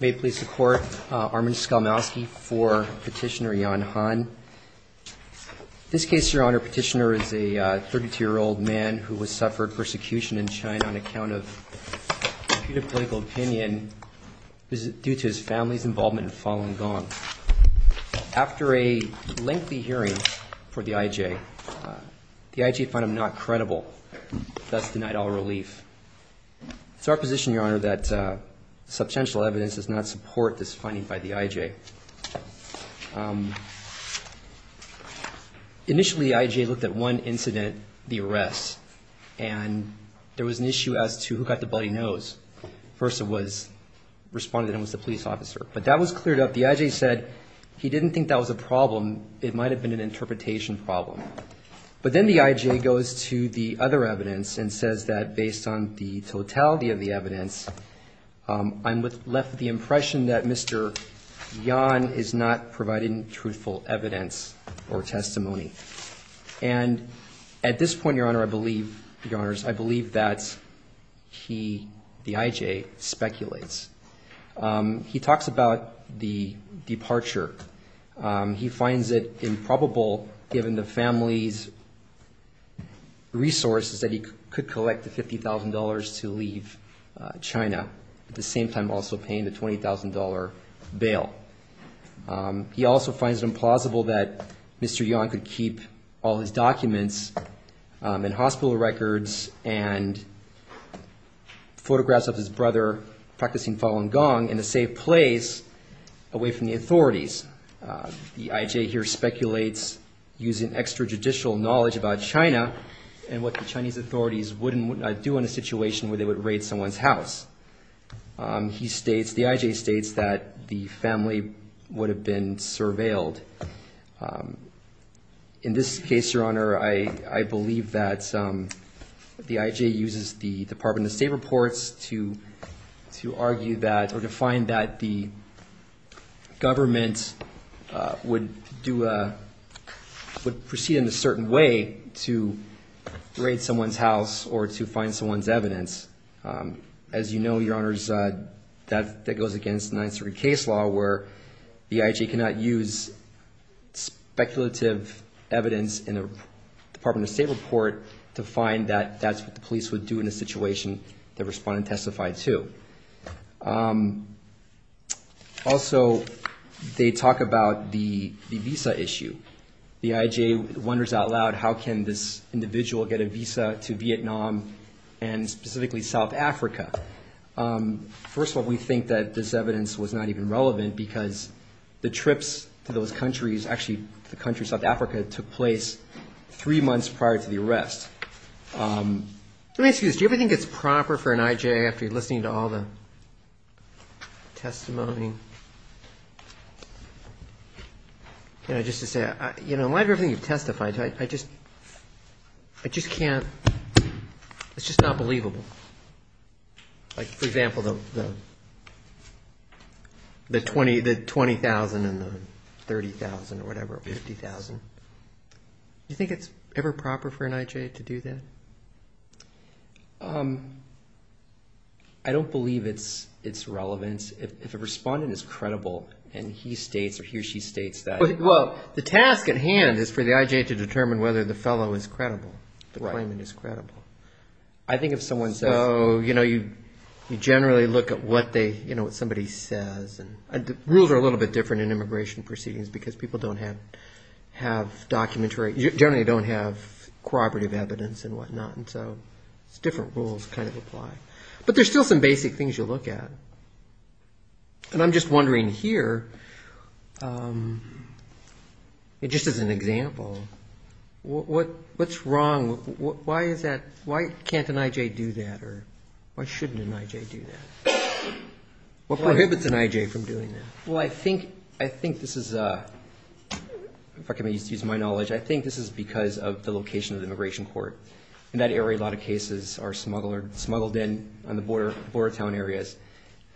May it please the Court, Armin Skolmowsky for Petitioner Jan Han. In this case, Your Honor, Petitioner is a 32-year-old man who has suffered persecution in China on account of a political opinion due to his family's involvement in Falun Gong. After a lengthy hearing for the IJ, the IJ found him not credible, thus denied all relief. It's our position, Your Honor, that substantial evidence does not support this finding by the IJ. Initially, the IJ looked at one incident, the arrest, and there was an issue as to who got the bloody nose. First it was the police officer, but that was cleared up. The IJ said he didn't think that was a problem. It might have been an interpretation problem. But then the IJ goes to the other evidence and says that based on the totality of the evidence, I'm left with the impression that Mr. Yan is not providing truthful evidence or testimony. And at this point, Your Honor, I believe, Your Honors, I believe that he, the IJ, speculates. He talks about the departure. He finds it improbable, given the family's resources, that he could collect the $50,000 to leave China, at the same time also paying the $20,000 bail. He also finds it implausible that Mr. Yan could keep all his documents and hospital records and photographs of his brother practicing Falun Gong in a safe place away from the authorities. The IJ here speculates using extrajudicial knowledge about China and what the Chinese authorities wouldn't do in a situation where they would raid someone's house. He states, the IJ states that the family would have been surveilled. In this case, Your Honor, I believe that the IJ uses the Department of State reports to argue that or to find that the government would proceed in a certain way to raid someone's house or to find someone's evidence. As you know, Your Honors, that goes against the Ninth Circuit case law, where the IJ cannot use speculative evidence in a Department of State report to find that that's what the police would do in a situation the respondent testified to. Also, they talk about the visa issue. The IJ wonders out loud, how can this individual get a visa to Vietnam and specifically South Africa? First of all, we think that this evidence was not even relevant because the trips to those countries, actually the country South Africa, took place three months prior to the arrest. Let me ask you this. Do you ever think it's proper for an IJ, after listening to all the testimony, just to say, in light of everything you've testified to, I just can't, it's just not believable. Like, for example, the 20,000 and the 30,000 or whatever, 50,000. Do you think it's ever proper for an IJ to do that? I don't believe it's relevant. If a respondent is credible and he states or he or she states that. Well, the task at hand is for the IJ to determine whether the fellow is credible, the claimant is credible. I think if someone says. You generally look at what somebody says. Rules are a little bit different in immigration proceedings because people don't have documentary, generally don't have corroborative evidence and whatnot. So it's different rules kind of apply. But there's still some basic things you look at. And I'm just wondering here, just as an example, what's wrong, why is that, why can't an IJ do that or why shouldn't an IJ do that? What prohibits an IJ from doing that? Well, I think this is, if I can use my knowledge, I think this is because of the location of the immigration court. In that area, a lot of cases are smuggled in on the border town areas.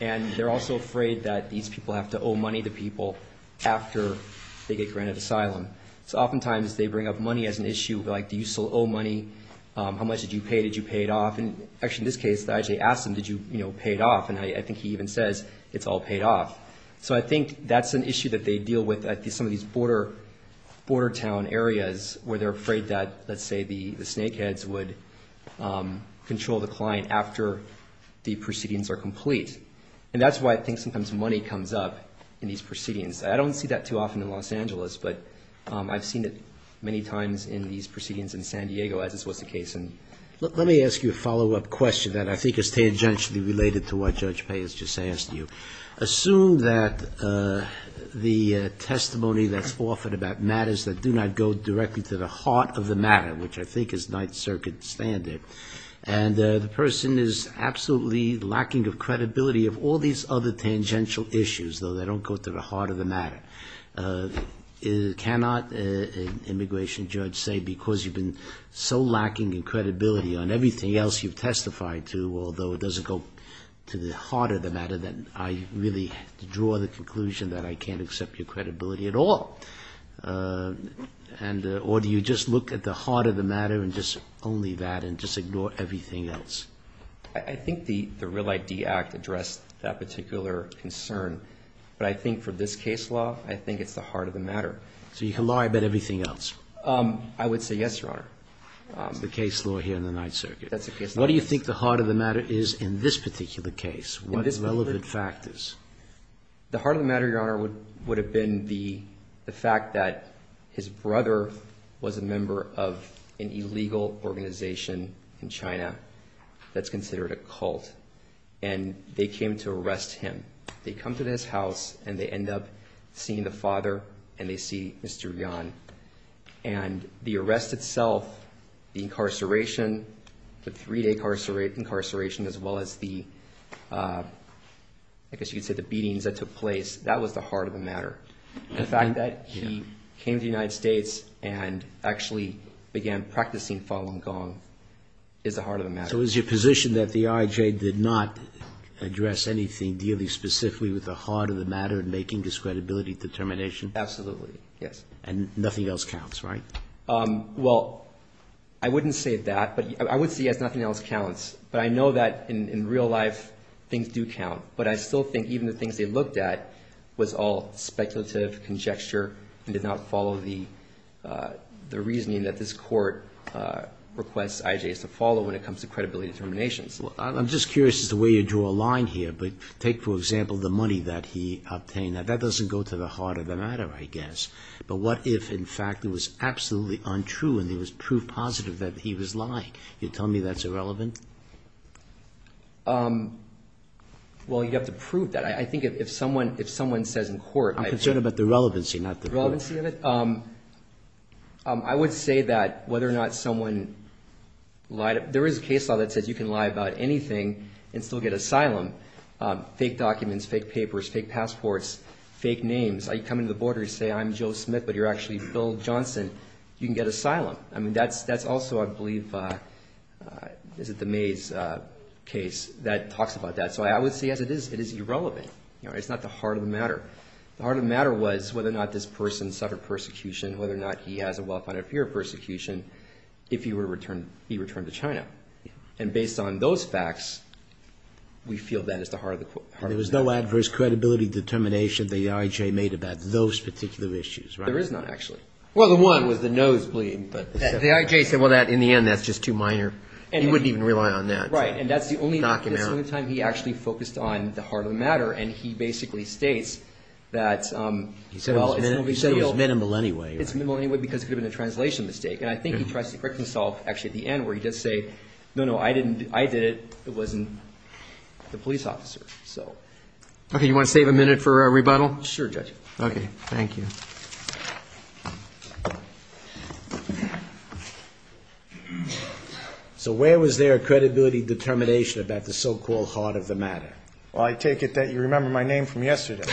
And they're also afraid that these people have to owe money to people after they get granted asylum. So oftentimes they bring up money as an issue. Like, do you still owe money? How much did you pay? Did you pay it off? And actually in this case, the IJ asked him, did you pay it off? And I think he even says, it's all paid off. So I think that's an issue that they deal with at some of these border town areas where they're afraid that, let's say, the snakeheads would control the client after the proceedings are complete. And that's why I think sometimes money comes up in these proceedings. I don't see that too often in Los Angeles, but I've seen it many times in these proceedings in San Diego, as this was the case. Let me ask you a follow-up question that I think is tangentially related to what Judge Payne has just asked you. Assume that the testimony that's offered about matters that do not go directly to the heart of the matter, which I think is Ninth Circuit standard, and the person is absolutely lacking of credibility of all these other tangential issues, though they don't go to the heart of the matter. Cannot an immigration judge say, because you've been so lacking in credibility on everything else you've testified to, although it doesn't go to the heart of the matter, that I really draw the conclusion that I can't accept your credibility at all? Or do you just look at the heart of the matter and just only that and just ignore everything else? I think the Real ID Act addressed that particular concern, but I think for this case law, I think it's the heart of the matter. So you can lie about everything else? I would say yes, Your Honor. The case law here in the Ninth Circuit. That's the case law. What do you think the heart of the matter is in this particular case? What are the relevant factors? The heart of the matter, Your Honor, would have been the fact that his brother was a member of an illegal organization in China that's considered a cult. And they came to arrest him. They come to his house, and they end up seeing the father, and they see Mr. Yuan. And the arrest itself, the incarceration, the three-day incarceration, as well as the, I guess you could say, the death penalty. You could say the beatings that took place. That was the heart of the matter. The fact that he came to the United States and actually began practicing Falun Gong is the heart of the matter. So is your position that the IJ did not address anything dealing specifically with the heart of the matter and making this credibility determination? Absolutely, yes. And nothing else counts, right? Well, I wouldn't say that, but I would say, yes, nothing else counts. But I know that in real life, things do count. But I still think even the things they looked at was all speculative, conjecture, and did not follow the reasoning that this Court requests IJs to follow when it comes to credibility determinations. I'm just curious as to where you draw a line here, but take, for example, the money that he obtained. That doesn't go to the heart of the matter, I guess. But what if, in fact, it was absolutely untrue and there was proof positive that he was lying? You're telling me that's irrelevant? Well, you'd have to prove that. I think if someone says in court... I'm concerned about the relevancy, not the court. The relevancy of it? I would say that whether or not someone lied... There is a case law that says you can lie about anything and still get asylum. Fake documents, fake papers, fake passports, fake names. You come into the border, you say, I'm Joe Smith, but you're actually Bill Johnson. You can get asylum. That's also, I believe, the Mays case that talks about that. So I would say, yes, it is irrelevant. It's not the heart of the matter. The heart of the matter was whether or not this person suffered persecution, whether or not he has a well-founded fear of persecution if he returned to China. And based on those facts, we feel that is the heart of the matter. There was no adverse credibility determination that the IJ made about those particular issues, right? There is not, actually. Well, the one was the nosebleed. The IJ said, well, in the end, that's just too minor. He wouldn't even rely on that. Right, and that's the only time he actually focused on the heart of the matter and he basically states that... He said it was minimal anyway. It's minimal anyway because it could have been a translation mistake. And I think he tries to correct himself actually at the end where he does say, no, no, I didn't, I did it. It wasn't the police officer. Okay, you want to save a minute for a rebuttal? Sure, Judge. Okay, thank you. So where was there a credibility determination about the so-called heart of the matter? Well, I take it that you remember my name from yesterday.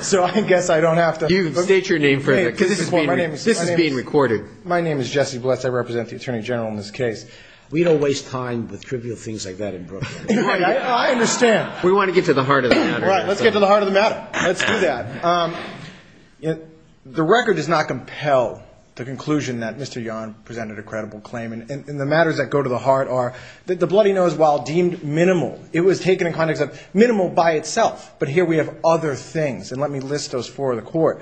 So I guess I don't have to... You state your name for it because this is being recorded. My name is Jesse Bless. I represent the Attorney General in this case. We don't waste time with trivial things like that in Brooklyn. I understand. We want to get to the heart of the matter. All right, let's get to the heart of the matter. Let's do that. The record does not compel the conclusion that Mr. Yarn presented a credible claim. And the matters that go to the heart are that the bloody nose while deemed minimal, it was taken in context of minimal by itself. But here we have other things. And let me list those for the Court.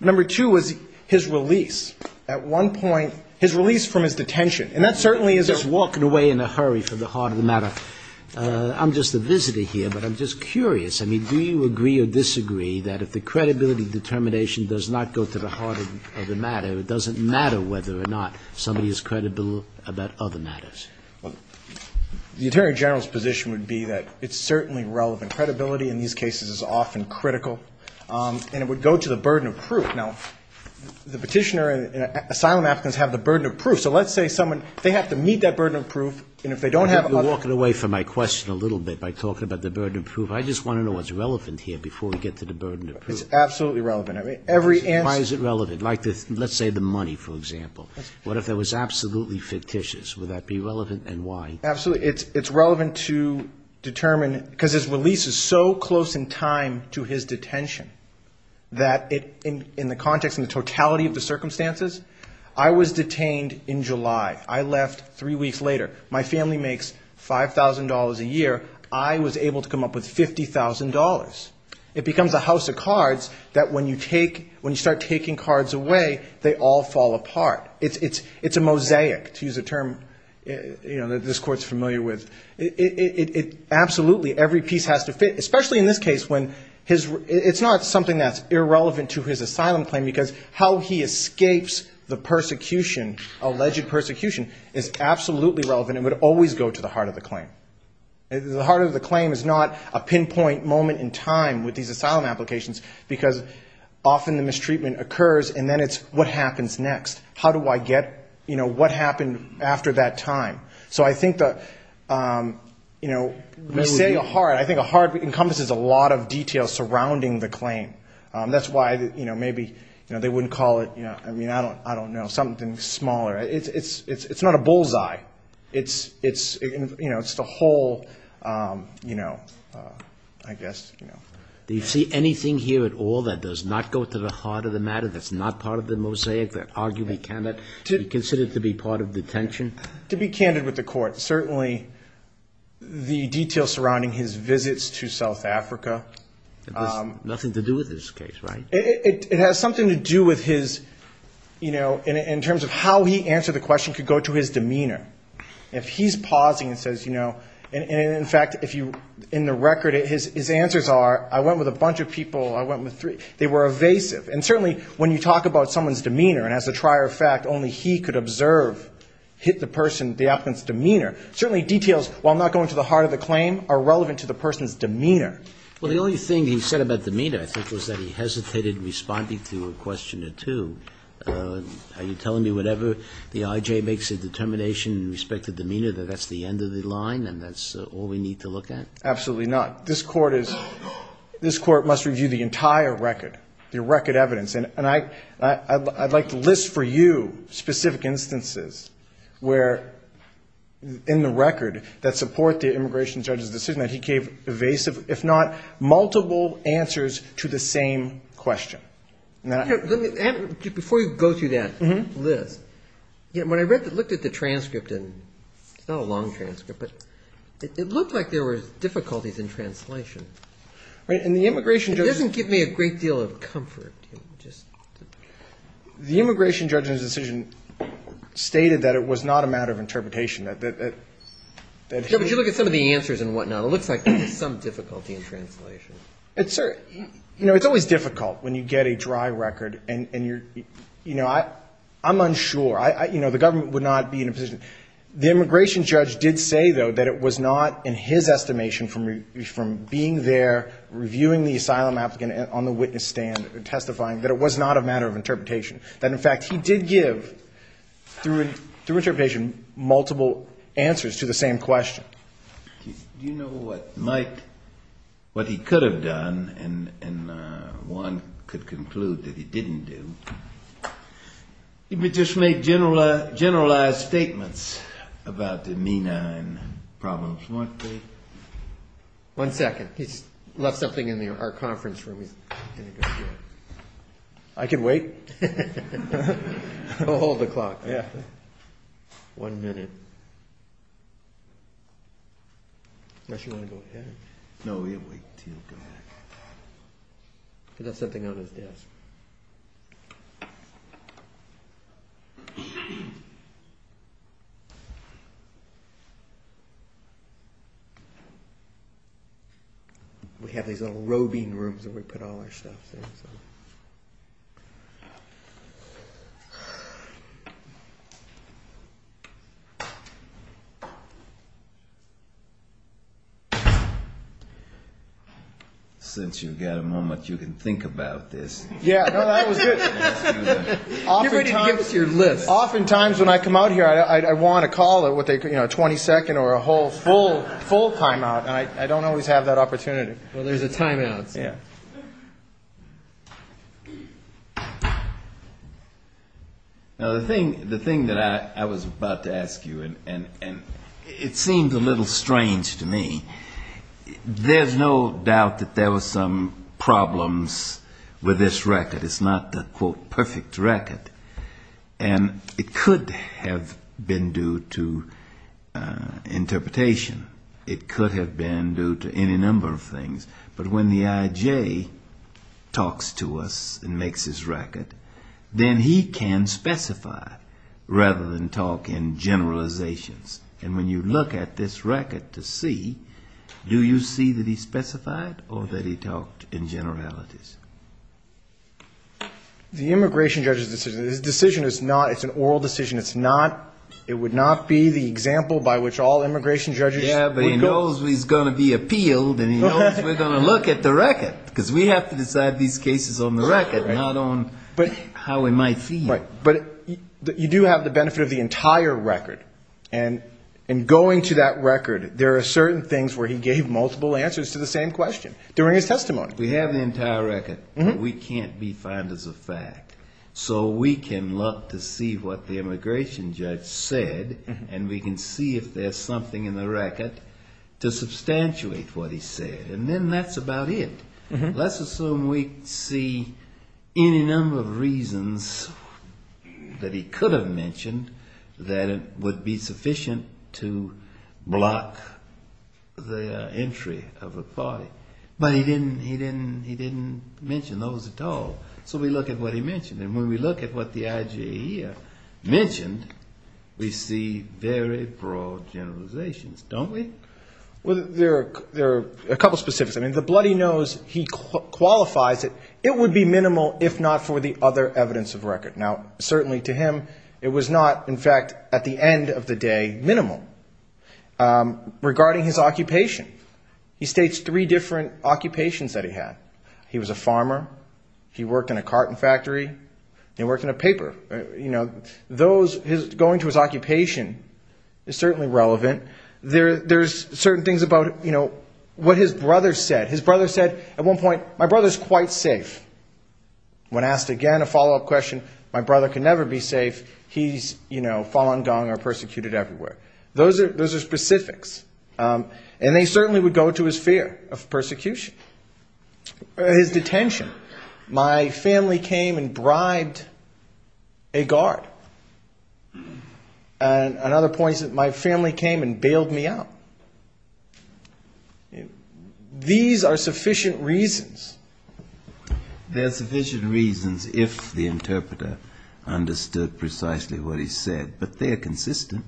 Number two was his release. At one point, his release from his detention. And that certainly is... Just walking away in a hurry from the heart of the matter. I'm just a visitor here, but I'm just curious. I mean, do you agree or disagree that if the credibility determination does not go to the heart of the matter, it doesn't matter whether or not somebody is credible about other matters? The Attorney General's position would be that it's certainly relevant. Credibility in these cases is often critical. And it would go to the burden of proof. Now, the petitioner and asylum applicants have the burden of proof. So let's say someone, they have to meet that burden of proof, and if they don't have other... You're walking away from my question a little bit by talking about the burden of proof. I just want to know what's relevant here before we get to the burden of proof. It's absolutely relevant. Every answer... Why is it relevant? Like, let's say the money, for example. What if that was absolutely fictitious? Would that be relevant, and why? It's relevant to determine, because his release is so close in time to his detention, that in the context, in the totality of the circumstances, I was detained in July. I left three weeks later. My family makes $5,000 a year. I was able to come up with $50,000. It becomes a house of cards that when you start taking cards away, they all fall apart. It's a mosaic, to use a term that this Court is familiar with. Absolutely, every piece has to fit, especially in this case. It's not something that's irrelevant to his asylum claim, because how he escapes the persecution, alleged persecution, is absolutely relevant and would always go to the heart of the claim. The heart of the claim is not a pinpoint moment in time with these asylum applications, because often the mistreatment occurs, and then it's, what happens next? What happened after that time? We say a heart. I think a heart encompasses a lot of detail surrounding the claim. That's why maybe they wouldn't call it, I don't know, something smaller. It's not a bullseye. It's the whole I guess. Do you see anything here at all that does not go to the heart of the matter, that's not part of the mosaic, that arguably cannot be considered to be part of detention? To be candid with the Court, certainly the detail surrounding his visits to South Africa. It has nothing to do with his case, right? It has something to do with his, in terms of how he answered the question, could go to his demeanor. If he's pausing and says, in fact, in the record, his answers are, I went with a bunch of people, I went with three. They were evasive. And certainly, when you talk about someone's demeanor, and as a trier of fact, only he could observe, hit the person, the applicant's demeanor, certainly details, while not going to the heart of the claim, are relevant to the person's demeanor. Well, the only thing he said about demeanor, I think, was that he hesitated in responding to a question or two. Are you telling me whatever the IJ makes a determination in respect to demeanor, that that's the end of the line and that's all we need to look at? Absolutely not. This Court is, this Court must review the entire record, the record evidence. And I'd like to list for you specific instances where, in the record, that support the immigration judge's decision that he gave evasive, if not multiple answers to the same question. Before you go through that, Liz, when I looked at the transcript, and it's not a long transcript, but it looked like there were difficulties in translation. It doesn't give me a great deal of comfort. The immigration judge's decision stated that it was not a matter of interpretation. Would you look at some of the answers and whatnot? It looks like there was some difficulty in translation. It's always difficult when you get a dry record. I'm unsure. The government would not be in a position. The immigration judge did say, though, that it was not, in his estimation, from being there, reviewing the asylum applicant on the witness stand, testifying, that it was not a matter of interpretation. That, in fact, he did give, through interpretation, multiple answers to the same question. Do you know what he could have done and one could conclude that he didn't do? He would just make generalized statements about the MENA and problems, wouldn't he? One second. He's left something in our conference room. I can wait. Hold the clock. One minute. Unless you want to go ahead. That's something on his desk. We have these little roving rooms where we put all our stuff. Since you've got a moment, you can think about this. Yeah, no, that was good. You're ready to give us your list. Oftentimes when I come out here, I want a call, a 20-second or a full timeout. I don't always have that opportunity. Well, there's a timeout, so. Now, the thing that I was about to ask you, and it seems a little strange to me, there's no doubt that there were some problems with this record. It's not the, quote, perfect record. And it could have been due to interpretation. It could have been due to any number of things. But when the IJ talks to us and makes his record, then he can specify rather than talk in generalizations. And when you look at this record to see, do you see that he specified or that he talked in generalities? The immigration judge's decision, his decision is not, it's an oral decision, it's not, it would not be the example by which all immigration judges would go. Yeah, but he knows he's going to be appealed and he knows we're going to look at the record. Because we have to decide these cases on the record, not on how we might feel. And going to that record, there are certain things where he gave multiple answers to the same question during his testimony. We have the entire record, but we can't be found as a fact. So we can look to see what the immigration judge said, and we can see if there's something in the record to substantiate what he said. And then that's about it. Let's assume we see any number of reasons that he could have mentioned that would be sufficient to block the entry of a party. But he didn't mention those at all. So we look at what he mentioned. And when we look at what the IG here mentioned, we see very broad generalizations, don't we? Well, there are a couple of specifics. I mean, the bloody nose, he said it was minimal if not for the other evidence of record. Now, certainly to him, it was not, in fact, at the end of the day, minimal. Regarding his occupation, he states three different occupations that he had. He was a farmer. He worked in a carton factory. He worked in a paper. You know, those, going to his occupation is certainly relevant. There's certain things about, you know, what his brother said. His brother said at one point, my brother's quite safe. When asked again, a follow-up question, my brother can never be safe. He's, you know, falun gong or persecuted everywhere. Those are specifics. And they certainly would go to his fear of persecution. His detention. My family came and bribed a guard. And another point is that my family came and bailed me out. These are sufficient reasons. There are sufficient reasons if the interpreter understood precisely what he said. But they are consistent.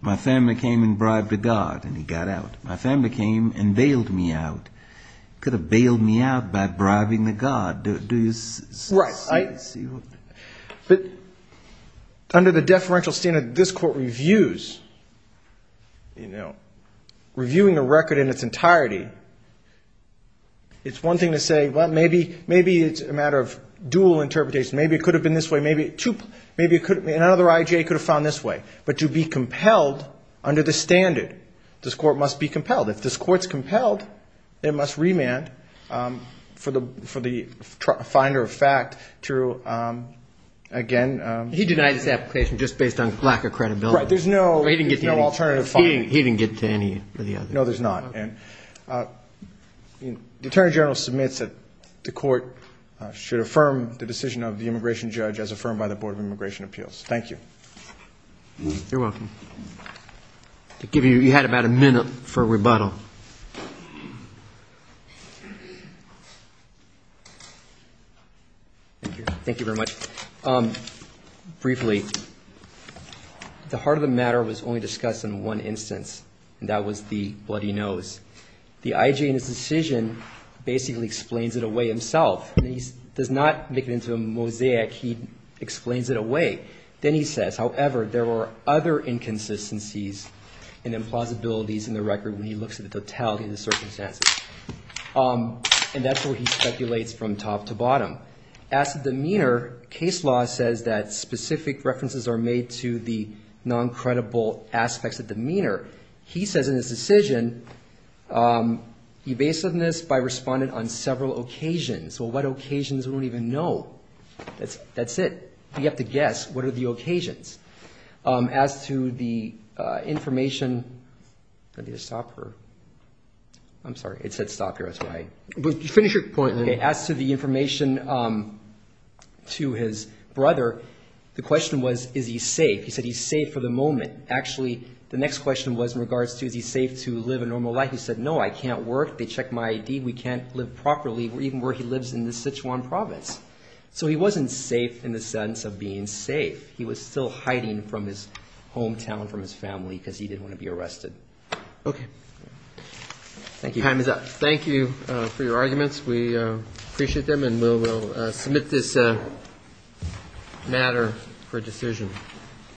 My family came and bribed a guard, and he got out. My family came and bailed me out. Could have bailed me out by bribing the guard. Do you see what... But under the deferential standard this Court reviews, you know, reviewing a record in its entirety, it's one thing to say, well, maybe it's a matter of dual interpretation. Maybe it could have been this way. Maybe another I.J. could have found this way. But to be compelled under the standard, this Court must be compelled. If this Court's compelled, it must remand for the finder of fact to, again... No, he didn't get to any. The Attorney General submits that the Court should affirm the decision of the immigration judge as affirmed by the Board of Immigration Appeals. Thank you. You had about a minute for rebuttal. Thank you very much. Briefly, the heart of the matter was only discussed in one instance, and that was the bloody nose. The I.J. in his decision basically explains it away himself. He does not make it into a mosaic. He explains it away. Then he says, however, there were other inconsistencies and implausibilities in the record when he looks at the totality of the circumstances. And that's where he speculates from top to bottom. As to demeanor, case law says that specific references are made to the non-credible aspects of demeanor. He says in his decision evasiveness by respondent on several occasions. Well, what occasions? We don't even know. That's it. You have to guess. What are the occasions? As to the information... I need to stop here. I'm sorry. It said stop here. That's why. Finish your point. As to the information to his brother, the question was is he safe? He said he's safe for the moment. Actually, the next question was in regards to is he safe to live a normal life? He said, no, I can't work. They checked my I.D. We can't live properly, even where he lives in the Sichuan province. So he wasn't safe in the sense of being safe. He was still hiding from his hometown, from his family, because he didn't want to be arrested. Okay. Time is up. Thank you for your arguments. We appreciate them, and we'll submit this matter for decision.